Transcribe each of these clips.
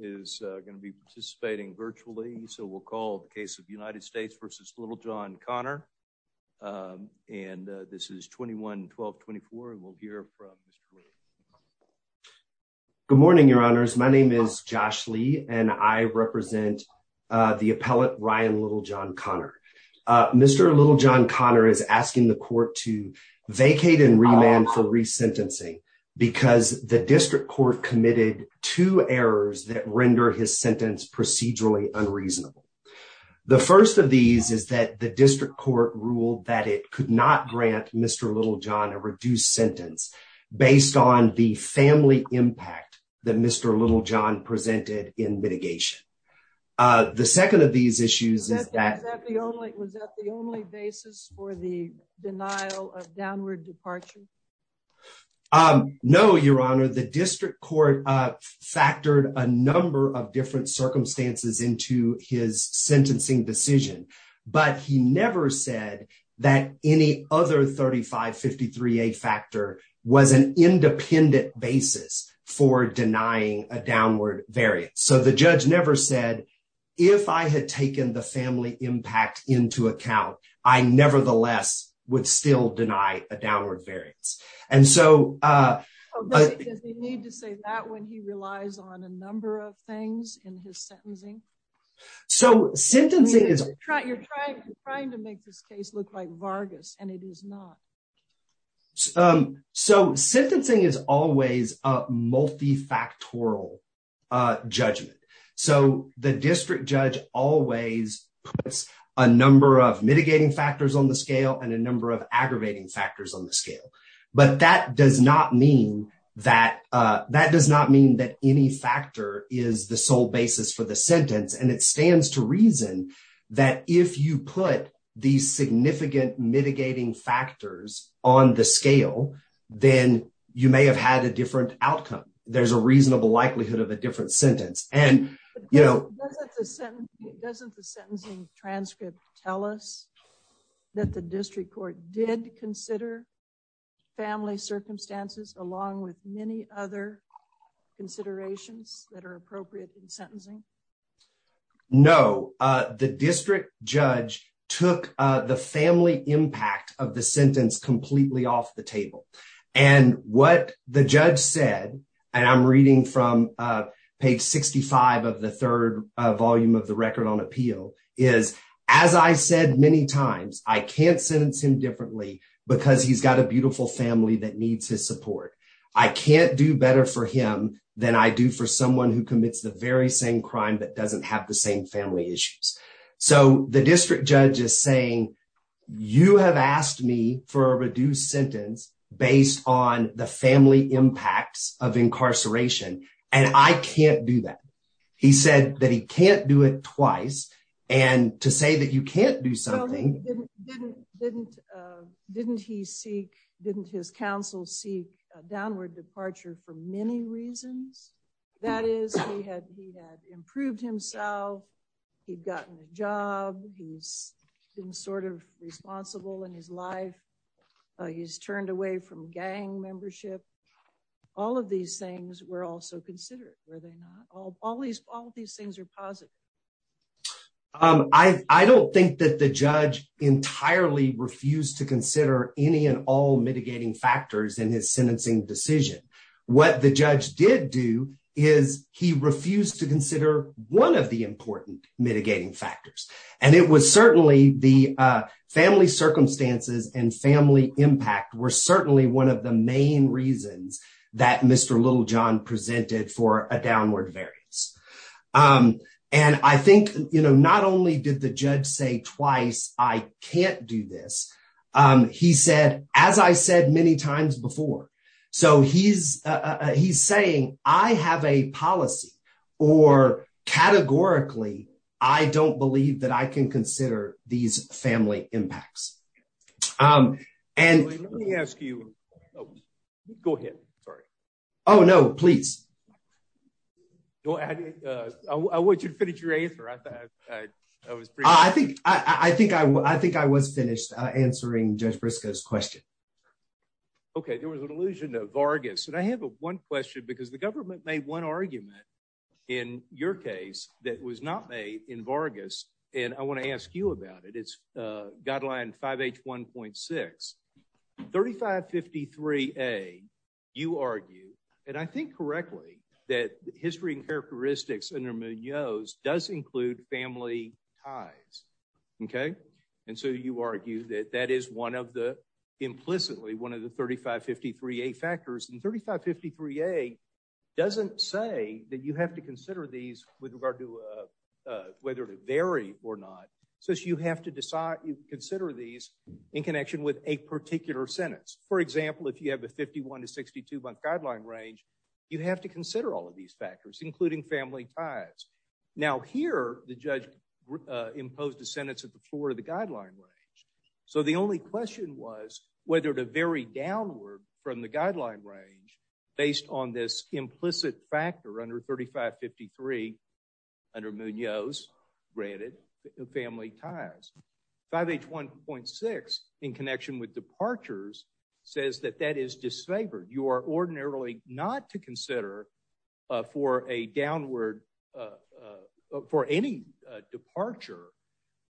is going to be participating virtually. So we'll call the case of United States versus Little John Connor. Um, and this is 21 12 24. We'll hear from Mr. Good morning, Your Honors. My name is Josh Lee, and I represent the appellate Ryan Little John Connor. Mr. Little John Connor is asking the court to vacate and remand for resentencing because the district court committed two errors that render his sentence procedurally unreasonable. The first of these is that the district court ruled that it could not grant Mr Little John a reduced sentence based on the family impact that Mr Little John presented in mitigation. Uh, the second of these issues is that the only was that the only basis for the denial of downward departure? Um, no, Your Honor. The Mr Little John did put a number of different circumstances into his sentencing decision, but he never said that any other 35 53 a factor was an independent basis for denying a downward variance. So the judge never said if I had taken the family impact into account, I nevertheless would still deny a downward variance. And so, uh, we need to say that when he relies on a number of things in his sentencing. So sentencing is trying to make this case look like Vargas, and it is not. Um, so sentencing is always a multifactorial judgment. So the district judge always puts a number of mitigating factors on the scale and a number of aggravating factors on the scale. But that does not mean that that does not mean that any factor is the sole basis for the sentence. And it on the scale, then you may have had a different outcome. There's a reasonable likelihood of a different sentence. And, you know, doesn't the sentencing transcript tell us that the district court did consider family circumstances along with many other considerations that are appropriate in completely off the table. And what the judge said, and I'm reading from page 65 of the third volume of the record on appeal is, as I said many times, I can't sentence him differently because he's got a beautiful family that needs his support. I can't do better for him than I do for someone who commits the very same crime that doesn't have the same family issues. So the district judge is you have asked me for a reduced sentence based on the family impacts of incarceration, and I can't do that. He said that he can't do it twice. And to say that you can't do something didn't didn't didn't he seek didn't his counsel seek downward departure for many reasons. That is, he had he had proved himself. He'd gotten a job. He's been sort of responsible in his life. He's turned away from gang membership. All of these things were also considered. Were they not? All these all these things are positive. I don't think that the judge entirely refused to consider any and all mitigating factors in his sentencing decision. What the judge did do is he refused to consider one of the important mitigating factors. And it was certainly the family circumstances and family impact were certainly one of the main reasons that Mr Little John presented for a downward variance. Um, and I think, you know, not only did the judge say twice, I can't do this. Um, he said, as I said many times before, so he's he's saying I have a policy or categorically, I don't believe that I can consider these family impacts. Um, and let me ask you, go ahead. Sorry. Oh, no, please. Go ahead. I want you to finish your answer. I thought I was. I think I think I think I was finished answering Judge Briscoe's question. Okay, there was an illusion of Vargas. And I have one question because the government made one argument in your case that was not made in Vargas. And I want to ask you about it. It's guideline five H 1.6 35 53 a you argue, and I think correctly that history and characteristics under Munoz does include family ties. Okay. And so you argue that that is one of the implicitly one of the 35 53 a factors in 35 53 a doesn't say that you have to consider these with regard to whether to vary or not. So you have to decide you consider these in connection with a particular sentence. For example, if you have a 51 to 62 month guideline range, you have to consider all of these factors, including family ties. Now, here, the judge imposed a sentence at the floor of the guideline range. So the only question was whether to vary downward from the guideline range based on this implicit factor under 35 53 under Munoz. Granted, family ties five H 1.6 in connection with departures says that that is disfavored. You are ordinarily not to consider for a downward, uh, for any departure,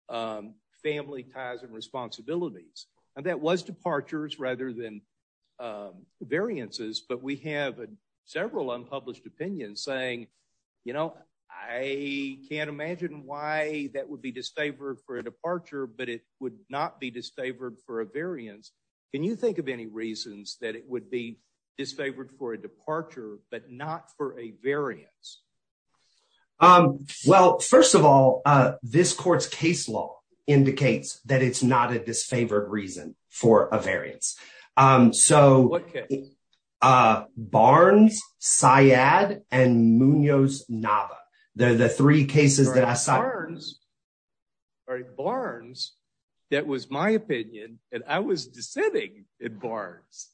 um, family ties and responsibilities. And that was departures rather than, uh, variances. But we have several unpublished opinions saying, You know, I can't imagine why that would be disfavored for a departure, but it would not be disfavored for a variance. Can you think of any reasons that it would be disfavored for a departure but not for a variance? Um, well, first of all, this court's case law indicates that it's not a disfavored reason for a variance. Um, so, uh, Barnes, Syed and Munoz Nava. They're the three cases that I saw Burns or Barnes. That was my opinion, and I was dissenting in Barnes.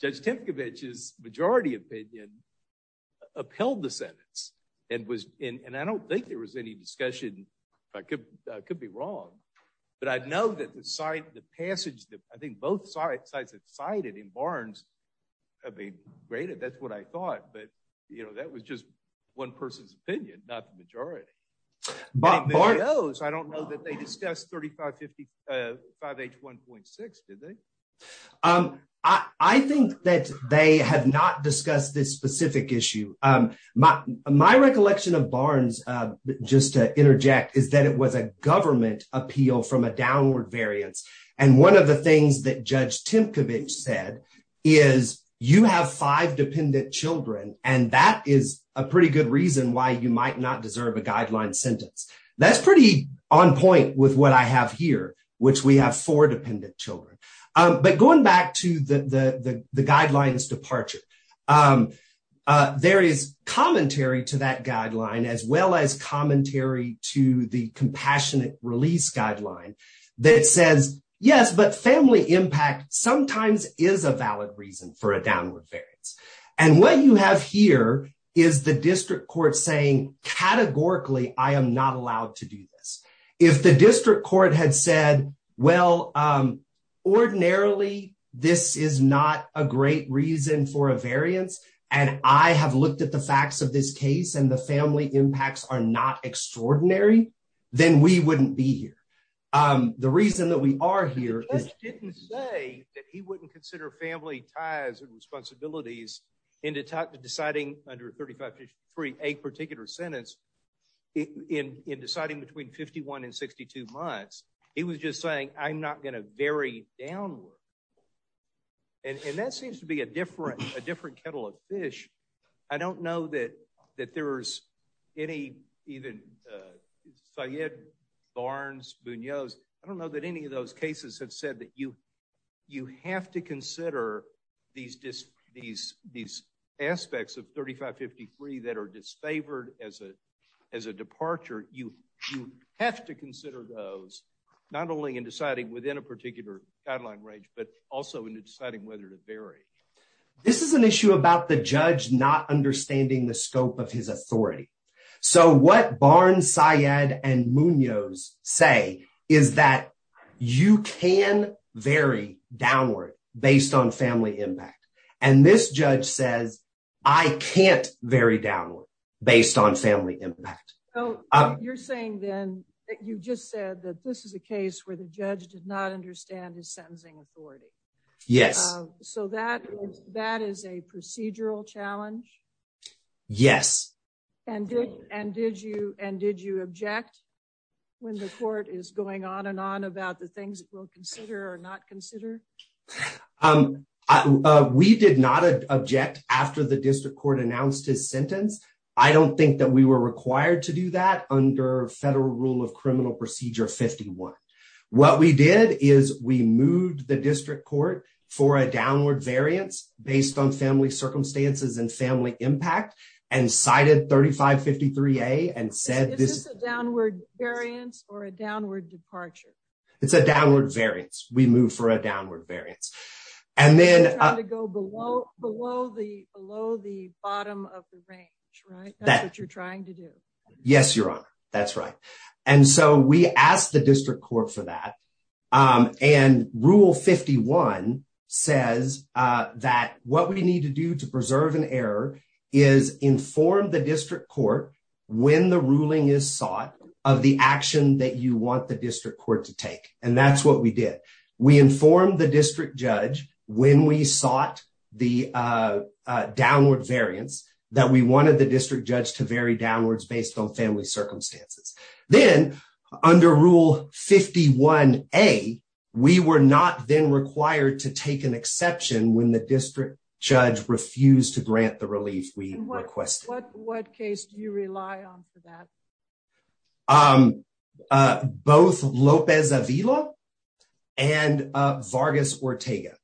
Judge Tempkiewicz is majority opinion upheld the sentence and was and I don't think there was any discussion. I could could be wrong, but I know that the site the passage that I think both sites sites excited in Barnes have been graded. That's what I thought. But you know, that was just one person's opinion, not majority. But Munoz, I don't know that they discussed 35 55 age 1.6. Did they? Um, I think that they have not discussed this specific issue. Um, my recollection of Barnes just to interject is that it was a government appeal from a downward variance. And one of the things that Judge Tempkiewicz said is you have five dependent Children, and that is a pretty good reason why you might not deserve a guideline sentence. That's pretty on point with what I have here, which we have four dependent Children. But going back to the guidelines departure, um, there is commentary to that guideline as well as commentary to the compassionate release guideline that says yes, but family impact sometimes is a valid reason for a downward variance. And what you have here is the district court saying categorically, I am not allowed to do this. If the district court had said, well, um, ordinarily, this is not a great reason for a variance. And I have looked at the facts of this case, and the family impacts are not extraordinary. Then we wouldn't be here. Um, the reason that we are here didn't say that he wouldn't consider family ties and responsibilities into deciding under 35 free a particular sentence in deciding between 51 and 62 months. He was just saying, I'm not gonna very downward. And that seems to be a different a different kettle of fish. I don't know that that there's any even, uh, so yet Barnes Munoz. I don't know that any of cases have said that you you have to consider these these these aspects of 35 53 that are disfavored as a as a departure. You have to consider those not only in deciding within a particular guideline range, but also in deciding whether to bury. This is an issue about the judge not understanding the scope of his authority. So what Barnes, Syed and Munoz say is that you can very downward based on family impact. And this judge says I can't very downward based on family impact. You're saying then that you just said that this is a case where the judge did not understand his sentencing authority. Yes. So that that is a procedural challenge. Yes. And did and did you? And did you object when the court is going on and on about the things that will consider or not consider? Um, we did not object after the district court announced his sentence. I don't think that we were required to do that under federal rule of criminal procedure. 51. What we did is we moved the district court for a downward variance based on family circumstances and family impact and cited 35 53 a and said this is a downward variance or a downward departure. It's a downward variance. We move for a downward variance and then to go below below the below the bottom of the range, right? That's what you're trying to do. Yes, your honor. That's right. And so we asked the district court for that. Um, and rule 51 says that what we need to do to preserve an error is inform the district court when the ruling is sought of the action that you want the district court to take. And that's what we did. We informed the district judge when we sought the downward variance that we wanted the district judge to very downwards based on family circumstances. Then under rule 51 a we were not then required to take an exception when the district judge refused to grant the relief we requested. What case do you rely on for that? Um, uh, both Lopez Avila and Vargas Ortega.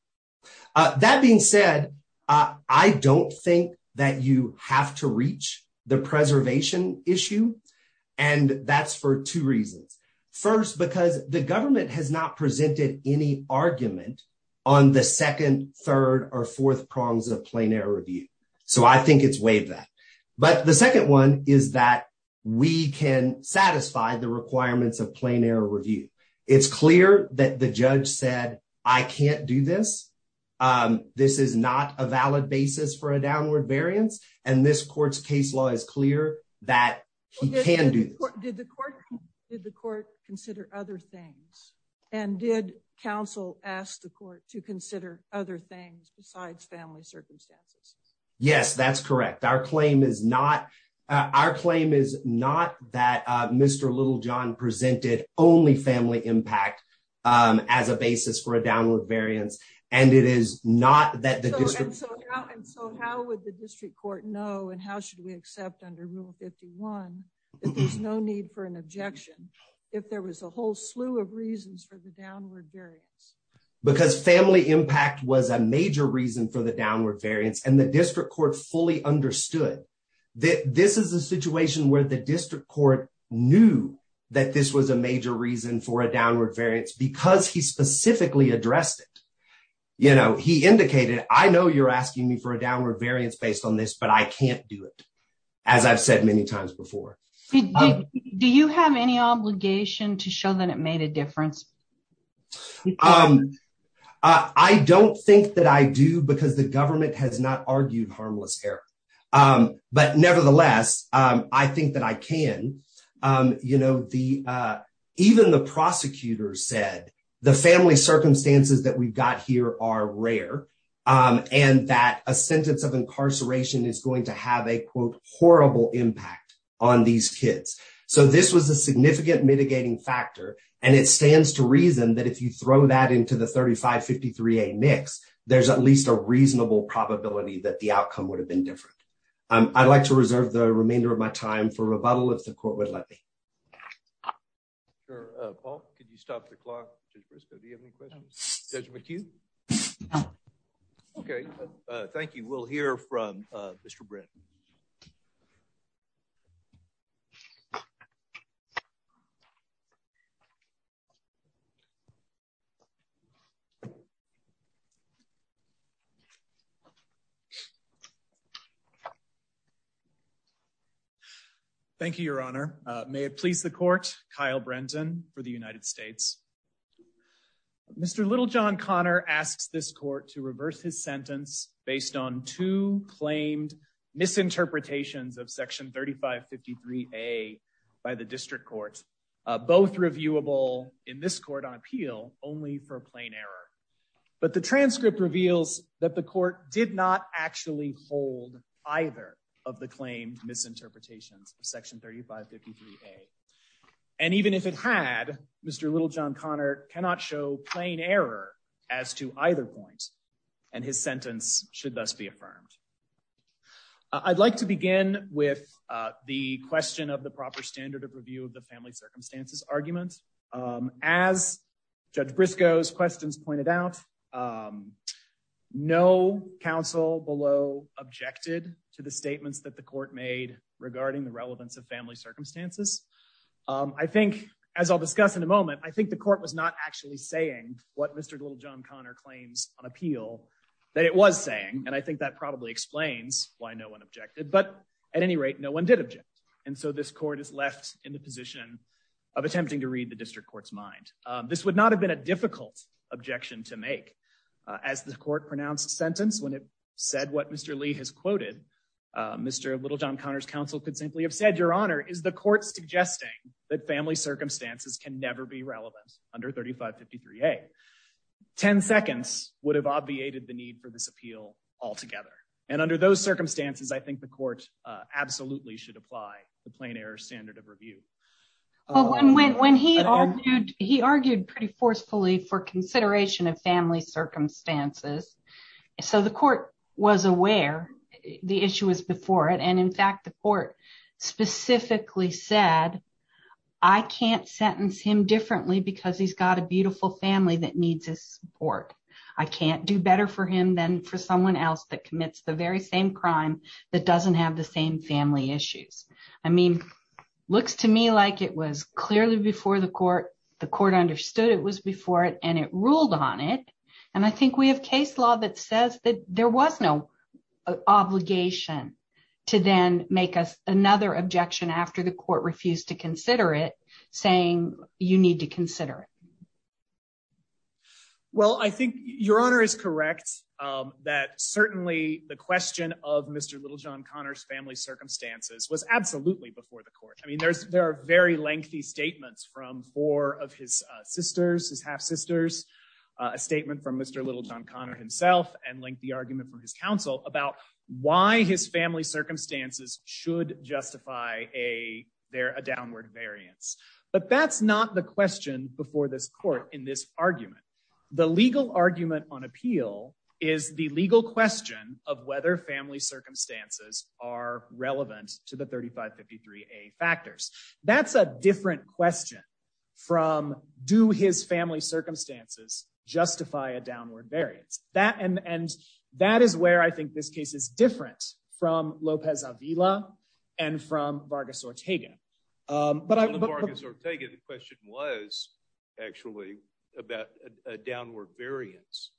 Uh, that being said, I don't think that you have to reach the preservation issue. And that's for two reasons. First, because the government has not presented any argument on the 2nd, 3rd or 4th prongs of plain error review. So I think it's wave that. But the second one is that we can satisfy the requirements of plain error review. It's clear that the judge said, I can't do this. Um, this is not a valid basis for a downward variance. And this court's case law is clear that he can do. Did the court did the court consider other things? And did counsel ask the court to consider other things besides family circumstances? Yes, that's correct. Our claim is not our claim is not that Mr Little John presented only family impact as a basis for a downward variance. And it is not that the district. So how would the district court know? And how should we accept under Rule 51? There's no need for an objection if there was a whole slew of reasons for the downward variance because family impact was a major reason for the downward variance. And the district court fully understood that this is a situation where the district court knew that this was a major reason for a downward variance because he specifically addressed it. You know, he indicated, I know you're asking me for a downward variance based on this, but I can't do it. As I've you have any obligation to show that it made a difference? Um, I don't think that I do because the government has not argued harmless error. Um, but nevertheless, I think that I can. Um, you know, the, uh, even the prosecutor said the family circumstances that we've got here are rare. Um, and that a sentence of incarceration is going to have a quote horrible impact on these kids. So this was a significant mitigating factor, and it stands to reason that if you throw that into the 35 53 a mix, there's at least a reasonable probability that the outcome would have been different. I'd like to reserve the remainder of my time for rebuttal. If the court would let me sure. Paul, could you stop the clock? Do you have any questions? Judge McHugh? Okay, thank you. We'll hear from Mr Britain. Okay. Thank you, Your Honor. May it please the court. Kyle Brenton for the United States. Mr Little John Connor asks this court to reverse his sentence based on two claimed misinterpretations of Section 35 53 a by the district court, both reviewable in this court on appeal only for plain error. But the transcript reveals that the court did not actually hold either of the claimed misinterpretations of Section 35 53 a and even if it had Mr Little John Connor cannot show plain error as to either point, and his sentence should thus be affirmed. I'd like to begin with the question of the proper standard of review of the family circumstances argument. Um, as Judge Briscoe's questions pointed out, um, no council below objected to the statements that the court made regarding the relevance of family circumstances. Um, I think, as I'll discuss in a moment, I think the court was not actually saying what Mr Little John Connor claims on appeal that it was saying. And I think that probably explains why no one objected. But at any rate, no one did object. And so this court is left in the position of attempting to read the district court's mind. This would not have been a difficult objection to make as the court pronounced sentence. When it said what Mr Lee has quoted, Mr Little John Connor's counsel could simply have said, Your Honor, is the court suggesting that family circumstances can never be relevant under 35 53 a 10 seconds would have obviated the need for this appeal altogether. And under those circumstances, I think the court absolutely should apply the plain error standard of review. But when when he argued, he argued pretty forcefully for consideration of family circumstances. So the court was aware the issue was before it. And in fact, the court specifically said, I can't sentence him differently because he's got a beautiful family that needs his support. I can't do better for him than for someone else that commits the very same crime that doesn't have the same family issues. I mean, looks to me like it was clearly before the court, the court understood it was before it and it ruled on it. And I think we have case law that says that there was no obligation to then make us after the court refused to consider it, saying you need to consider it. Well, I think Your Honor is correct that certainly the question of Mr Little John Connor's family circumstances was absolutely before the court. I mean, there's there are very lengthy statements from four of his sisters, his half sisters, a statement from Mr Little John Connor himself and linked the argument from his counsel about why his family circumstances should justify a downward variance. But that's not the question before this court. In this argument, the legal argument on appeal is the legal question of whether family circumstances are relevant to the 35 53 a factors. That's a different variance that and and that is where I think this case is different from Lopez Avila and from Vargas Ortega. Um, but I want to take it. The question was actually about a downward variance.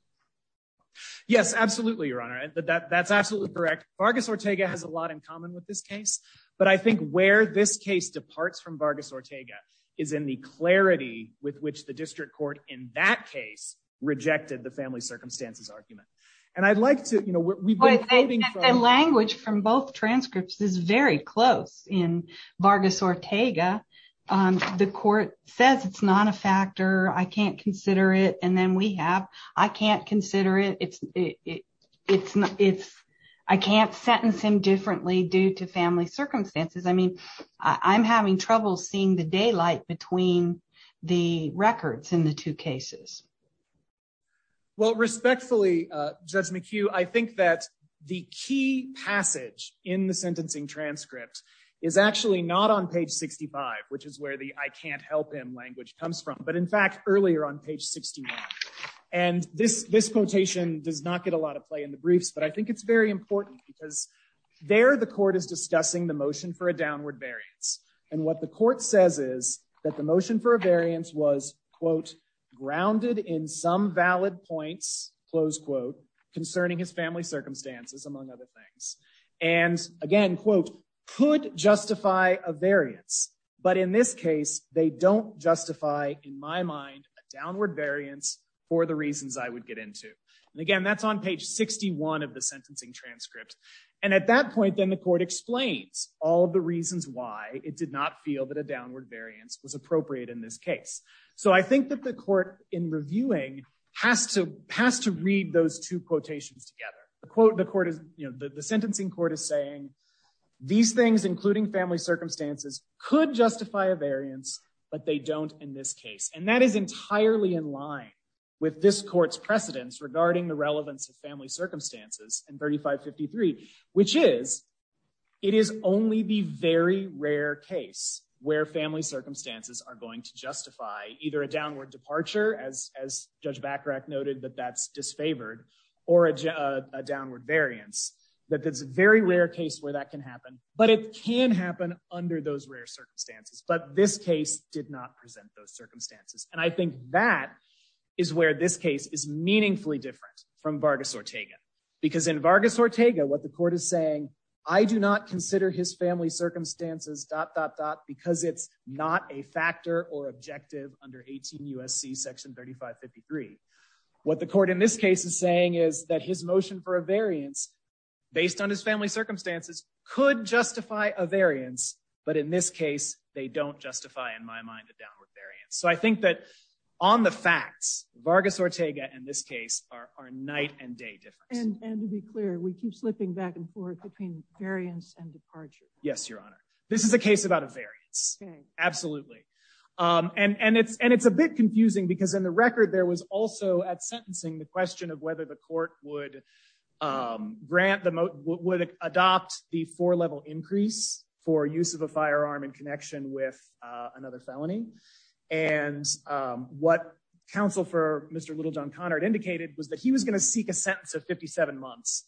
Yes, absolutely, Your Honor. That's absolutely correct. Vargas Ortega has a lot in common with this case. But I think where this case departs from Vargas Ortega is in the clarity with which the district court in that case rejected the family circumstances argument. And I'd like to, you know, we've been a language from both transcripts is very close in Vargas Ortega. Um, the court says it's not a factor. I can't consider it. And then we have I can't consider it. It's it's it's I can't sentence him differently due to family circumstances. I mean, I'm having trouble seeing the daylight between the records in the two cases. Well, respectfully, Judge McHugh, I think that the key passage in the sentencing transcript is actually not on page 65, which is where the I can't help him language comes from. But in fact, earlier on page 60 and this this quotation does not get a lot of play in the briefs. But I think it's very important because there the court is discussing the motion for a downward variance. And what the court says is that the motion for a variance was, quote, grounded in some valid points, close quote, concerning his family circumstances, among other things. And again, quote, could justify a variance. But in this case, they don't justify in my mind downward variance for the reasons I would get into. And again, that's on page 61 of the sentencing transcript. And at that point, then the court explains all the reasons why it did not feel that a downward variance was appropriate in this case. So I think that the court in reviewing has to has to read those two quotations together. The quote the court is the sentencing court is saying these things, including family circumstances, could justify a variance, but they don't in this case. And that is entirely in line with this court's precedence regarding the relevance of family circumstances and 35 53, which is it is only the very rare case where family circumstances are going to justify either a downward departure, as as Judge Bacarach noted that that's disfavored or a downward variance. But that's a very rare case where that can happen. But it can happen under those rare circumstances. But this case did not present those from Vargas Ortega, because in Vargas Ortega, what the court is saying, I do not consider his family circumstances dot dot dot because it's not a factor or objective under 18 U. S. C. Section 35 53. What the court in this case is saying is that his motion for a variance based on his family circumstances could justify a variance. But in this case, they don't justify in my mind the downward variance. So I think that on the facts Vargas Ortega and this case are our night and day difference. And to be clear, we keep slipping back and forth between variance and departure. Yes, Your Honor. This is a case about a variance. Absolutely. Um, and and it's and it's a bit confusing because in the record, there was also at sentencing the question of whether the court would, um, grant the would adopt the four level increase for use of a firearm in connection with another felony. And, um, what council for Mr Little John Connard indicated was that he was gonna seek a sentence of 57 months.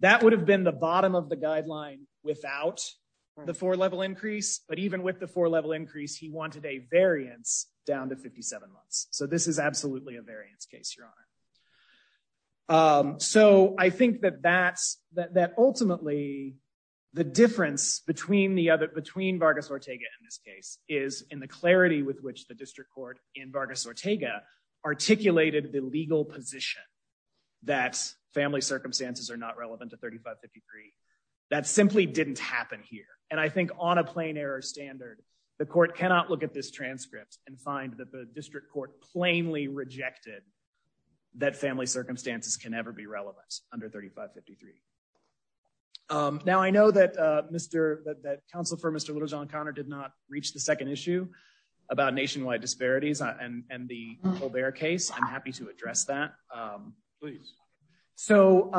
That would have been the bottom of the guideline without the four level increase. But even with the four level increase, he wanted a variance down to 57 months. So this is absolutely a variance case, Your Honor. Um, so I think that that's that ultimately the difference between the other between Vargas Ortega in this case is in the clarity with which the in Vargas Ortega articulated the legal position that family circumstances are not relevant to 35 53. That simply didn't happen here. And I think on a plain error standard, the court cannot look at this transcript and find that the district court plainly rejected that family circumstances can ever be relevant under 35 53. Um, now I know that, uh, Mr that council for Mr Little John Conner did not reach the second issue about nationwide disparities on and the Colbert case. I'm happy to address that. Um, please. So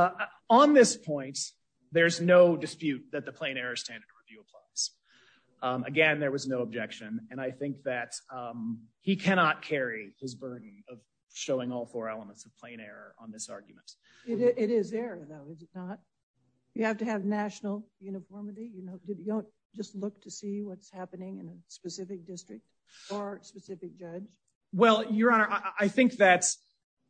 on this point, there's no dispute that the plain error standard review applies again. There was no objection. And I think that, um, he cannot carry his burden of showing all four elements of plain error on this argument. It is there, though, is it not? You have to have national uniformity. You don't just look to see what's happening in a specific district or specific judge. Well, Your Honor, I think that's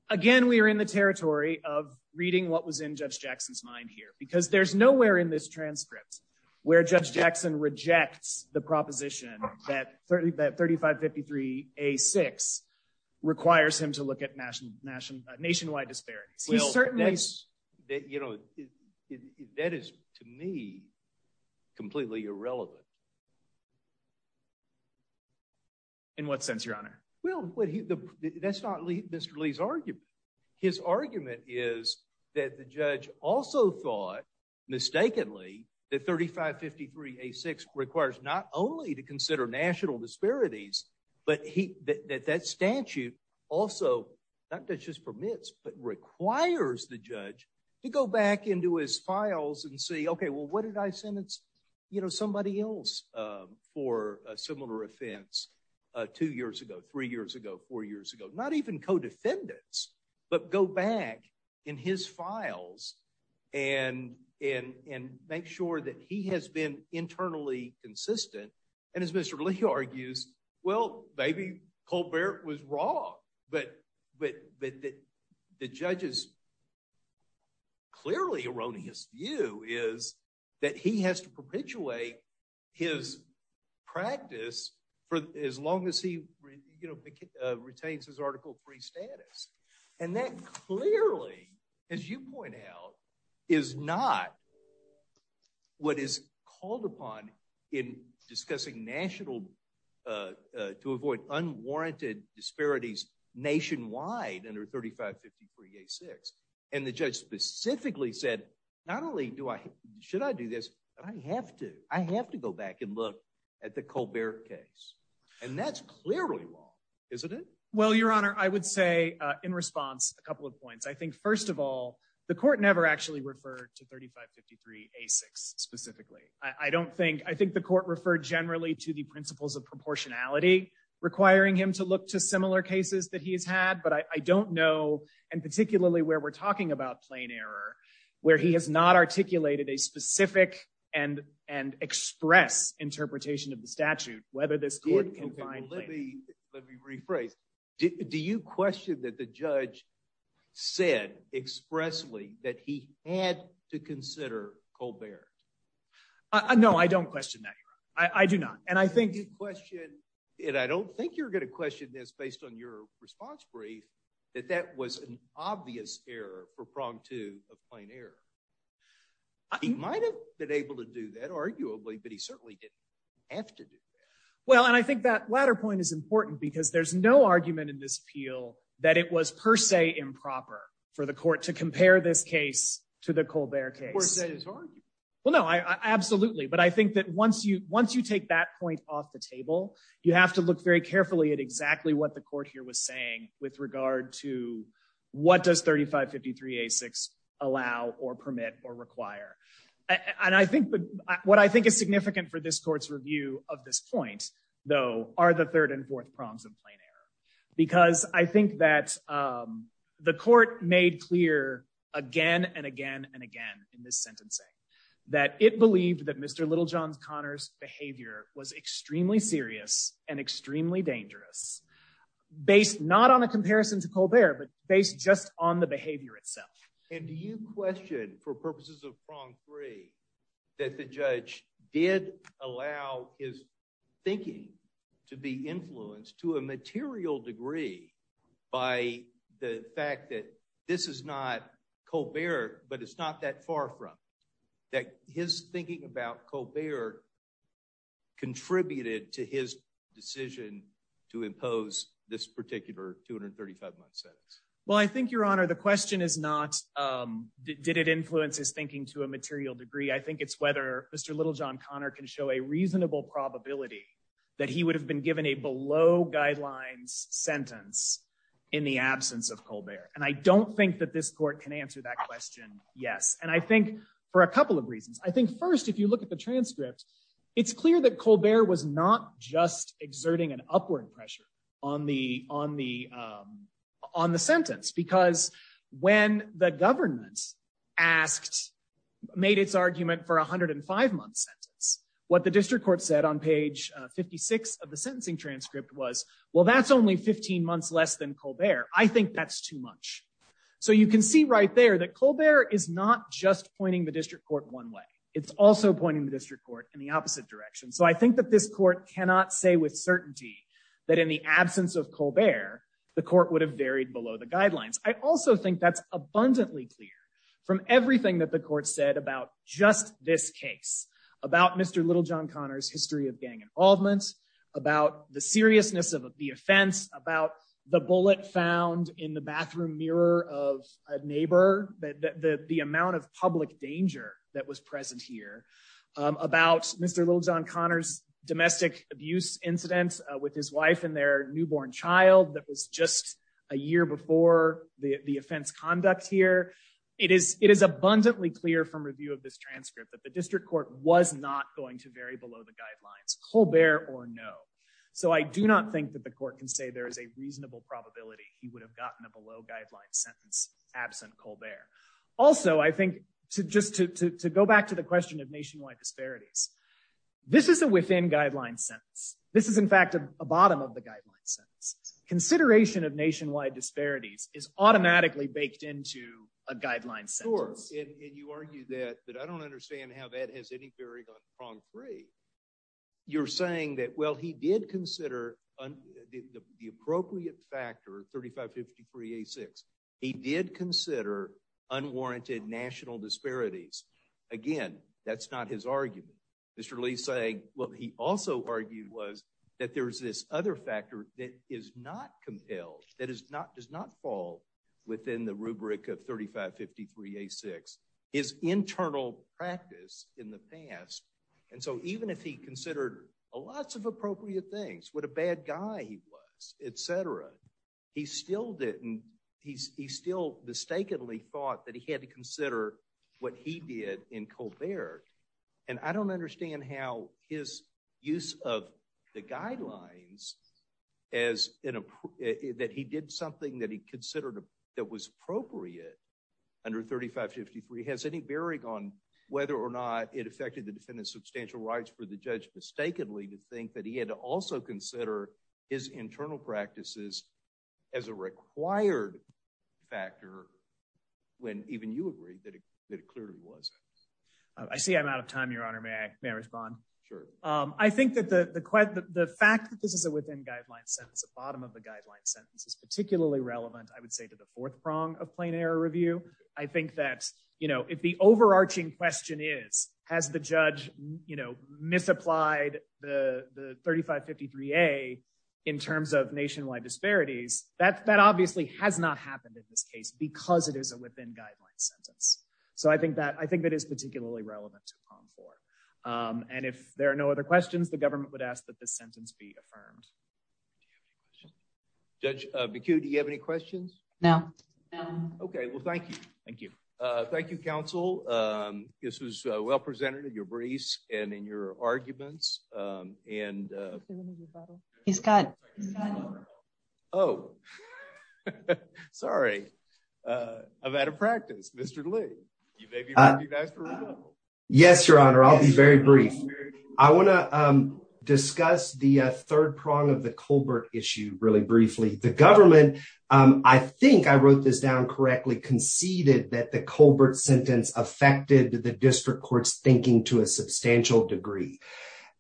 again. We're in the territory of reading what was in Judge Jackson's mind here, because there's nowhere in this transcript where Judge Jackson rejects the proposition that 30 that 35 53 a six requires him to look at national nation nationwide disparities. He Yeah. In what sense, Your Honor? Well, that's not Mr Lee's argument. His argument is that the judge also thought mistakenly that 35 53 a six requires not only to consider national disparities, but he that that statute also not that just permits but requires the judge to go back into his files and see. Okay, well, what did I sentence? You know somebody else for a similar offense two years ago, three years ago, four years ago, not even co defendants, but go back in his files and and and make sure that he has been internally consistent. And as Mr Lee argues, well, maybe Colbert was wrong, but but but the judges clearly erroneous view is that he has to perpetuate his practice for as long as he, you know, retains his article three status. And that clearly, as you point out, is not what is called upon in discussing national, uh, to avoid unwarranted disparities nationwide under 35 53 a six. And the judge specifically said, not only do I should I do this, but I have to. I have to go back and look at the Colbert case, and that's clearly wrong, isn't it? Well, Your Honor, I would say in response a couple of points. I think, first of all, the 53 a six specifically, I don't think I think the court referred generally to the principles of proportionality, requiring him to look to similar cases that he has had. But I don't know. And particularly where we're talking about plane error, where he has not articulated a specific and and express interpretation of the statute. Whether this court confined, let me let me rephrase. Do you question that the judge said expressly that he had to consider Colbert? No, I don't question that. I do not. And I think you question it. I don't think you're gonna question this based on your response brief that that was an obvious error for prong to a plane error. He might have been able to do that, arguably, but he certainly didn't have to. Well, and I think that latter point is important because there's no argument in this appeal that it was per se improper for the court to compare this case to the Colbert case. Well, no, absolutely. But I think that once you once you take that point off the table, you have to look very carefully at exactly what the court here was saying with regard to what does 35 53 a six allow or permit or require? And I think what I think is significant for this court's review of this point, though, are the third and fourth prongs because I think that, um, the court made clear again and again and again in this sentencing that it believed that Mr Little John Connors behavior was extremely serious and extremely dangerous based not on a comparison to Colbert, but based just on the behavior itself. And do you question for purposes of prong three that the judge did allow his thinking to be influenced to a material degree by the fact that this is not Colbert, but it's not that far from that his thinking about Colbert contributed to his decision to impose this particular 235 month sentence? Well, I think your honor, the question is not, um, did it influence his thinking to a material degree? I think it's whether Mr Little John Connor can show a reasonable probability that he would have been given a below guidelines sentence in the absence of Colbert. And I don't think that this court can answer that question. Yes. And I think for a couple of reasons, I think first, if you look at the transcript, it's clear that Colbert was not just exerting an upward pressure on the on the, um, on the sentence, because when the government asked made its argument for 105 month sentence, what the district court said on page 56 of the sentencing transcript was, Well, that's only 15 months less than Colbert. I think that's too much. So you can see right there that Colbert is not just pointing the district court one way. It's also pointing the district court in the opposite direction. So I think that this court cannot say with certainty that in the absence of Colbert, the court would have varied below the guidelines. I also think that's abundantly clear from everything that the court said about just this case about Mr. Little John Connors, history of gang involvement about the seriousness of the offense about the bullet found in the bathroom mirror of a neighbor that the amount of public danger that was present here about Mr. Little John Connors, domestic abuse incidents with his wife and their newborn child. That was just a year before the offense conduct here. It is. It is abundantly clear from review of this transcript that the district court was not going to very below the guidelines Colbert or no. So I do not think that the court can say there is a reasonable probability he would have gotten a below guidelines sentence absent Colbert. Also, I think just to go back to the question of nationwide disparities, this is a within guidelines sentence. This is, in fact, a bottom of the guidelines. Consideration of nationwide disparities is automatically baked into a has any very concrete. You're saying that? Well, he did consider the appropriate factor. 35 53 86. He did consider unwarranted national disparities again. That's not his argument. Mr Lee saying what he also argued was that there's this other factor that is not compelled. That is not does not fall within the rubric of 35 53 86 is internal practice in the past. And so even if he considered lots of appropriate things, what a bad guy he was, etcetera, he still didn't. He's still mistakenly thought that he had to consider what he did in Colbert. And I don't understand how his use of the something that he considered that was appropriate under 35 53 has any bearing on whether or not it affected the defendant's substantial rights for the judge mistakenly to think that he had also consider his internal practices as a required factor when even you agree that it clearly was. I see I'm out of time, Your Honor. May I may respond? Sure. I think that the quite the fact that this is a within guidelines sentence, the bottom of the guidelines sentence is particularly relevant, I would say, to the fourth prong of plain error review. I think that, you know, if the overarching question is, has the judge, you know, misapplied the 35 53 a in terms of nationwide disparities that that obviously has not happened in this case because it is a within guidelines sentence. So I think that I think that is particularly relevant to come for. Um, and if there are no other questions, the government would ask that the sentence be affirmed. Judge BQ. Do you have any questions now? Okay, well, thank you. Thank you. Thank you, Counsel. Um, this was well presented in your briefs and in your arguments. Um, and, uh, he's got, Oh, sorry. Uh, I've had a practice. Mr Lee, you may be. Yes, Your Honor. I'll be very brief. I wanna discuss the third prong of the Colbert issue really briefly. The government. I think I wrote this down correctly conceded that the Colbert sentence affected the district courts thinking to a substantial degree.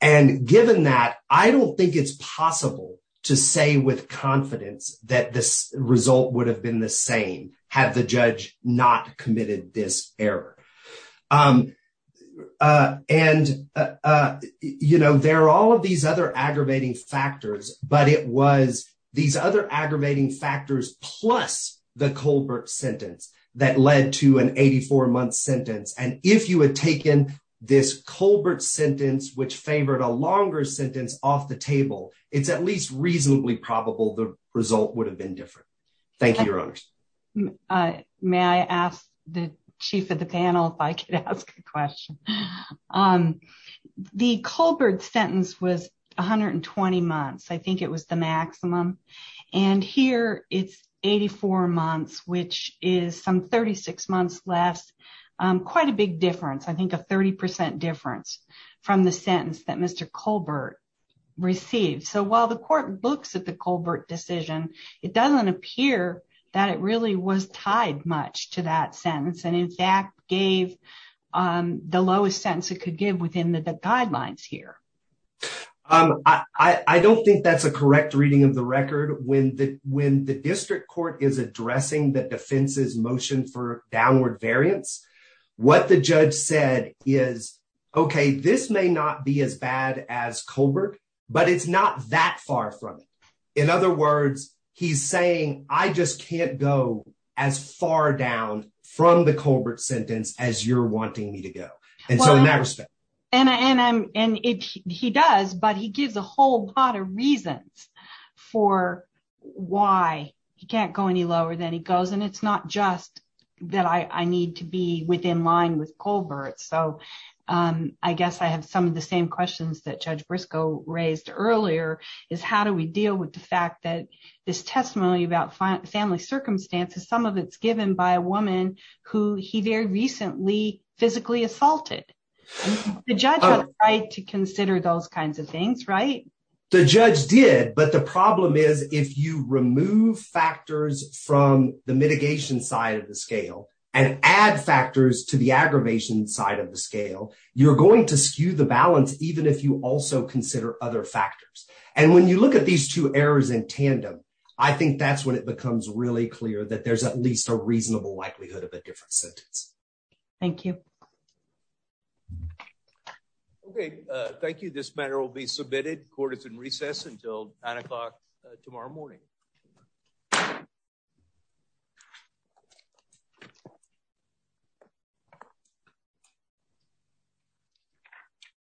And given that, I don't think it's possible to say with confidence that this result would have been the same had the judge not committed this error. Um, uh, and, uh, you know, there are all of these other aggravating factors, but it was these other aggravating factors plus the Colbert sentence that led to an 84 month sentence. And if you had taken this Colbert sentence, which favored a longer sentence off the table, it's at least reasonably probable the result would have been different. Thank you, Your Honor. Uh, may I ask the chief of the panel if I could ask a question? Um, the Colbert sentence was 120 months. I think it was the maximum. And here it's 84 months, which is some 36 months less. Um, quite a big difference. I think a 30% difference from the sentence that Colbert decision. It doesn't appear that it really was tied much to that sentence and in fact gave, um, the lowest sense it could give within the guidelines here. Um, I don't think that's a correct reading of the record when the when the district court is addressing the defense's motion for downward variance. What the judge said is, okay, this may not be as bad as in other words, he's saying, I just can't go as far down from the Colbert sentence as you're wanting me to go. And so in that respect, and he does, but he gives a whole lot of reasons for why he can't go any lower than he goes. And it's not just that I need to be within line with Colbert. So, um, I guess I have some of the same questions that Judge Briscoe raised earlier is how do we deal with the fact that this testimony about family circumstances, some of it's given by a woman who he very recently physically assaulted the judge to consider those kinds of things, right? The judge did. But the problem is, if you remove factors from the mitigation side of the scale and add factors to the aggravation side of the scale, you're going to skew the factors. And when you look at these two errors in tandem, I think that's when it becomes really clear that there's at least a reasonable likelihood of a different sentence. Thank you. Okay. Thank you. This matter will be submitted. Court is in recess until nine o'clock tomorrow morning. Yeah. Yeah.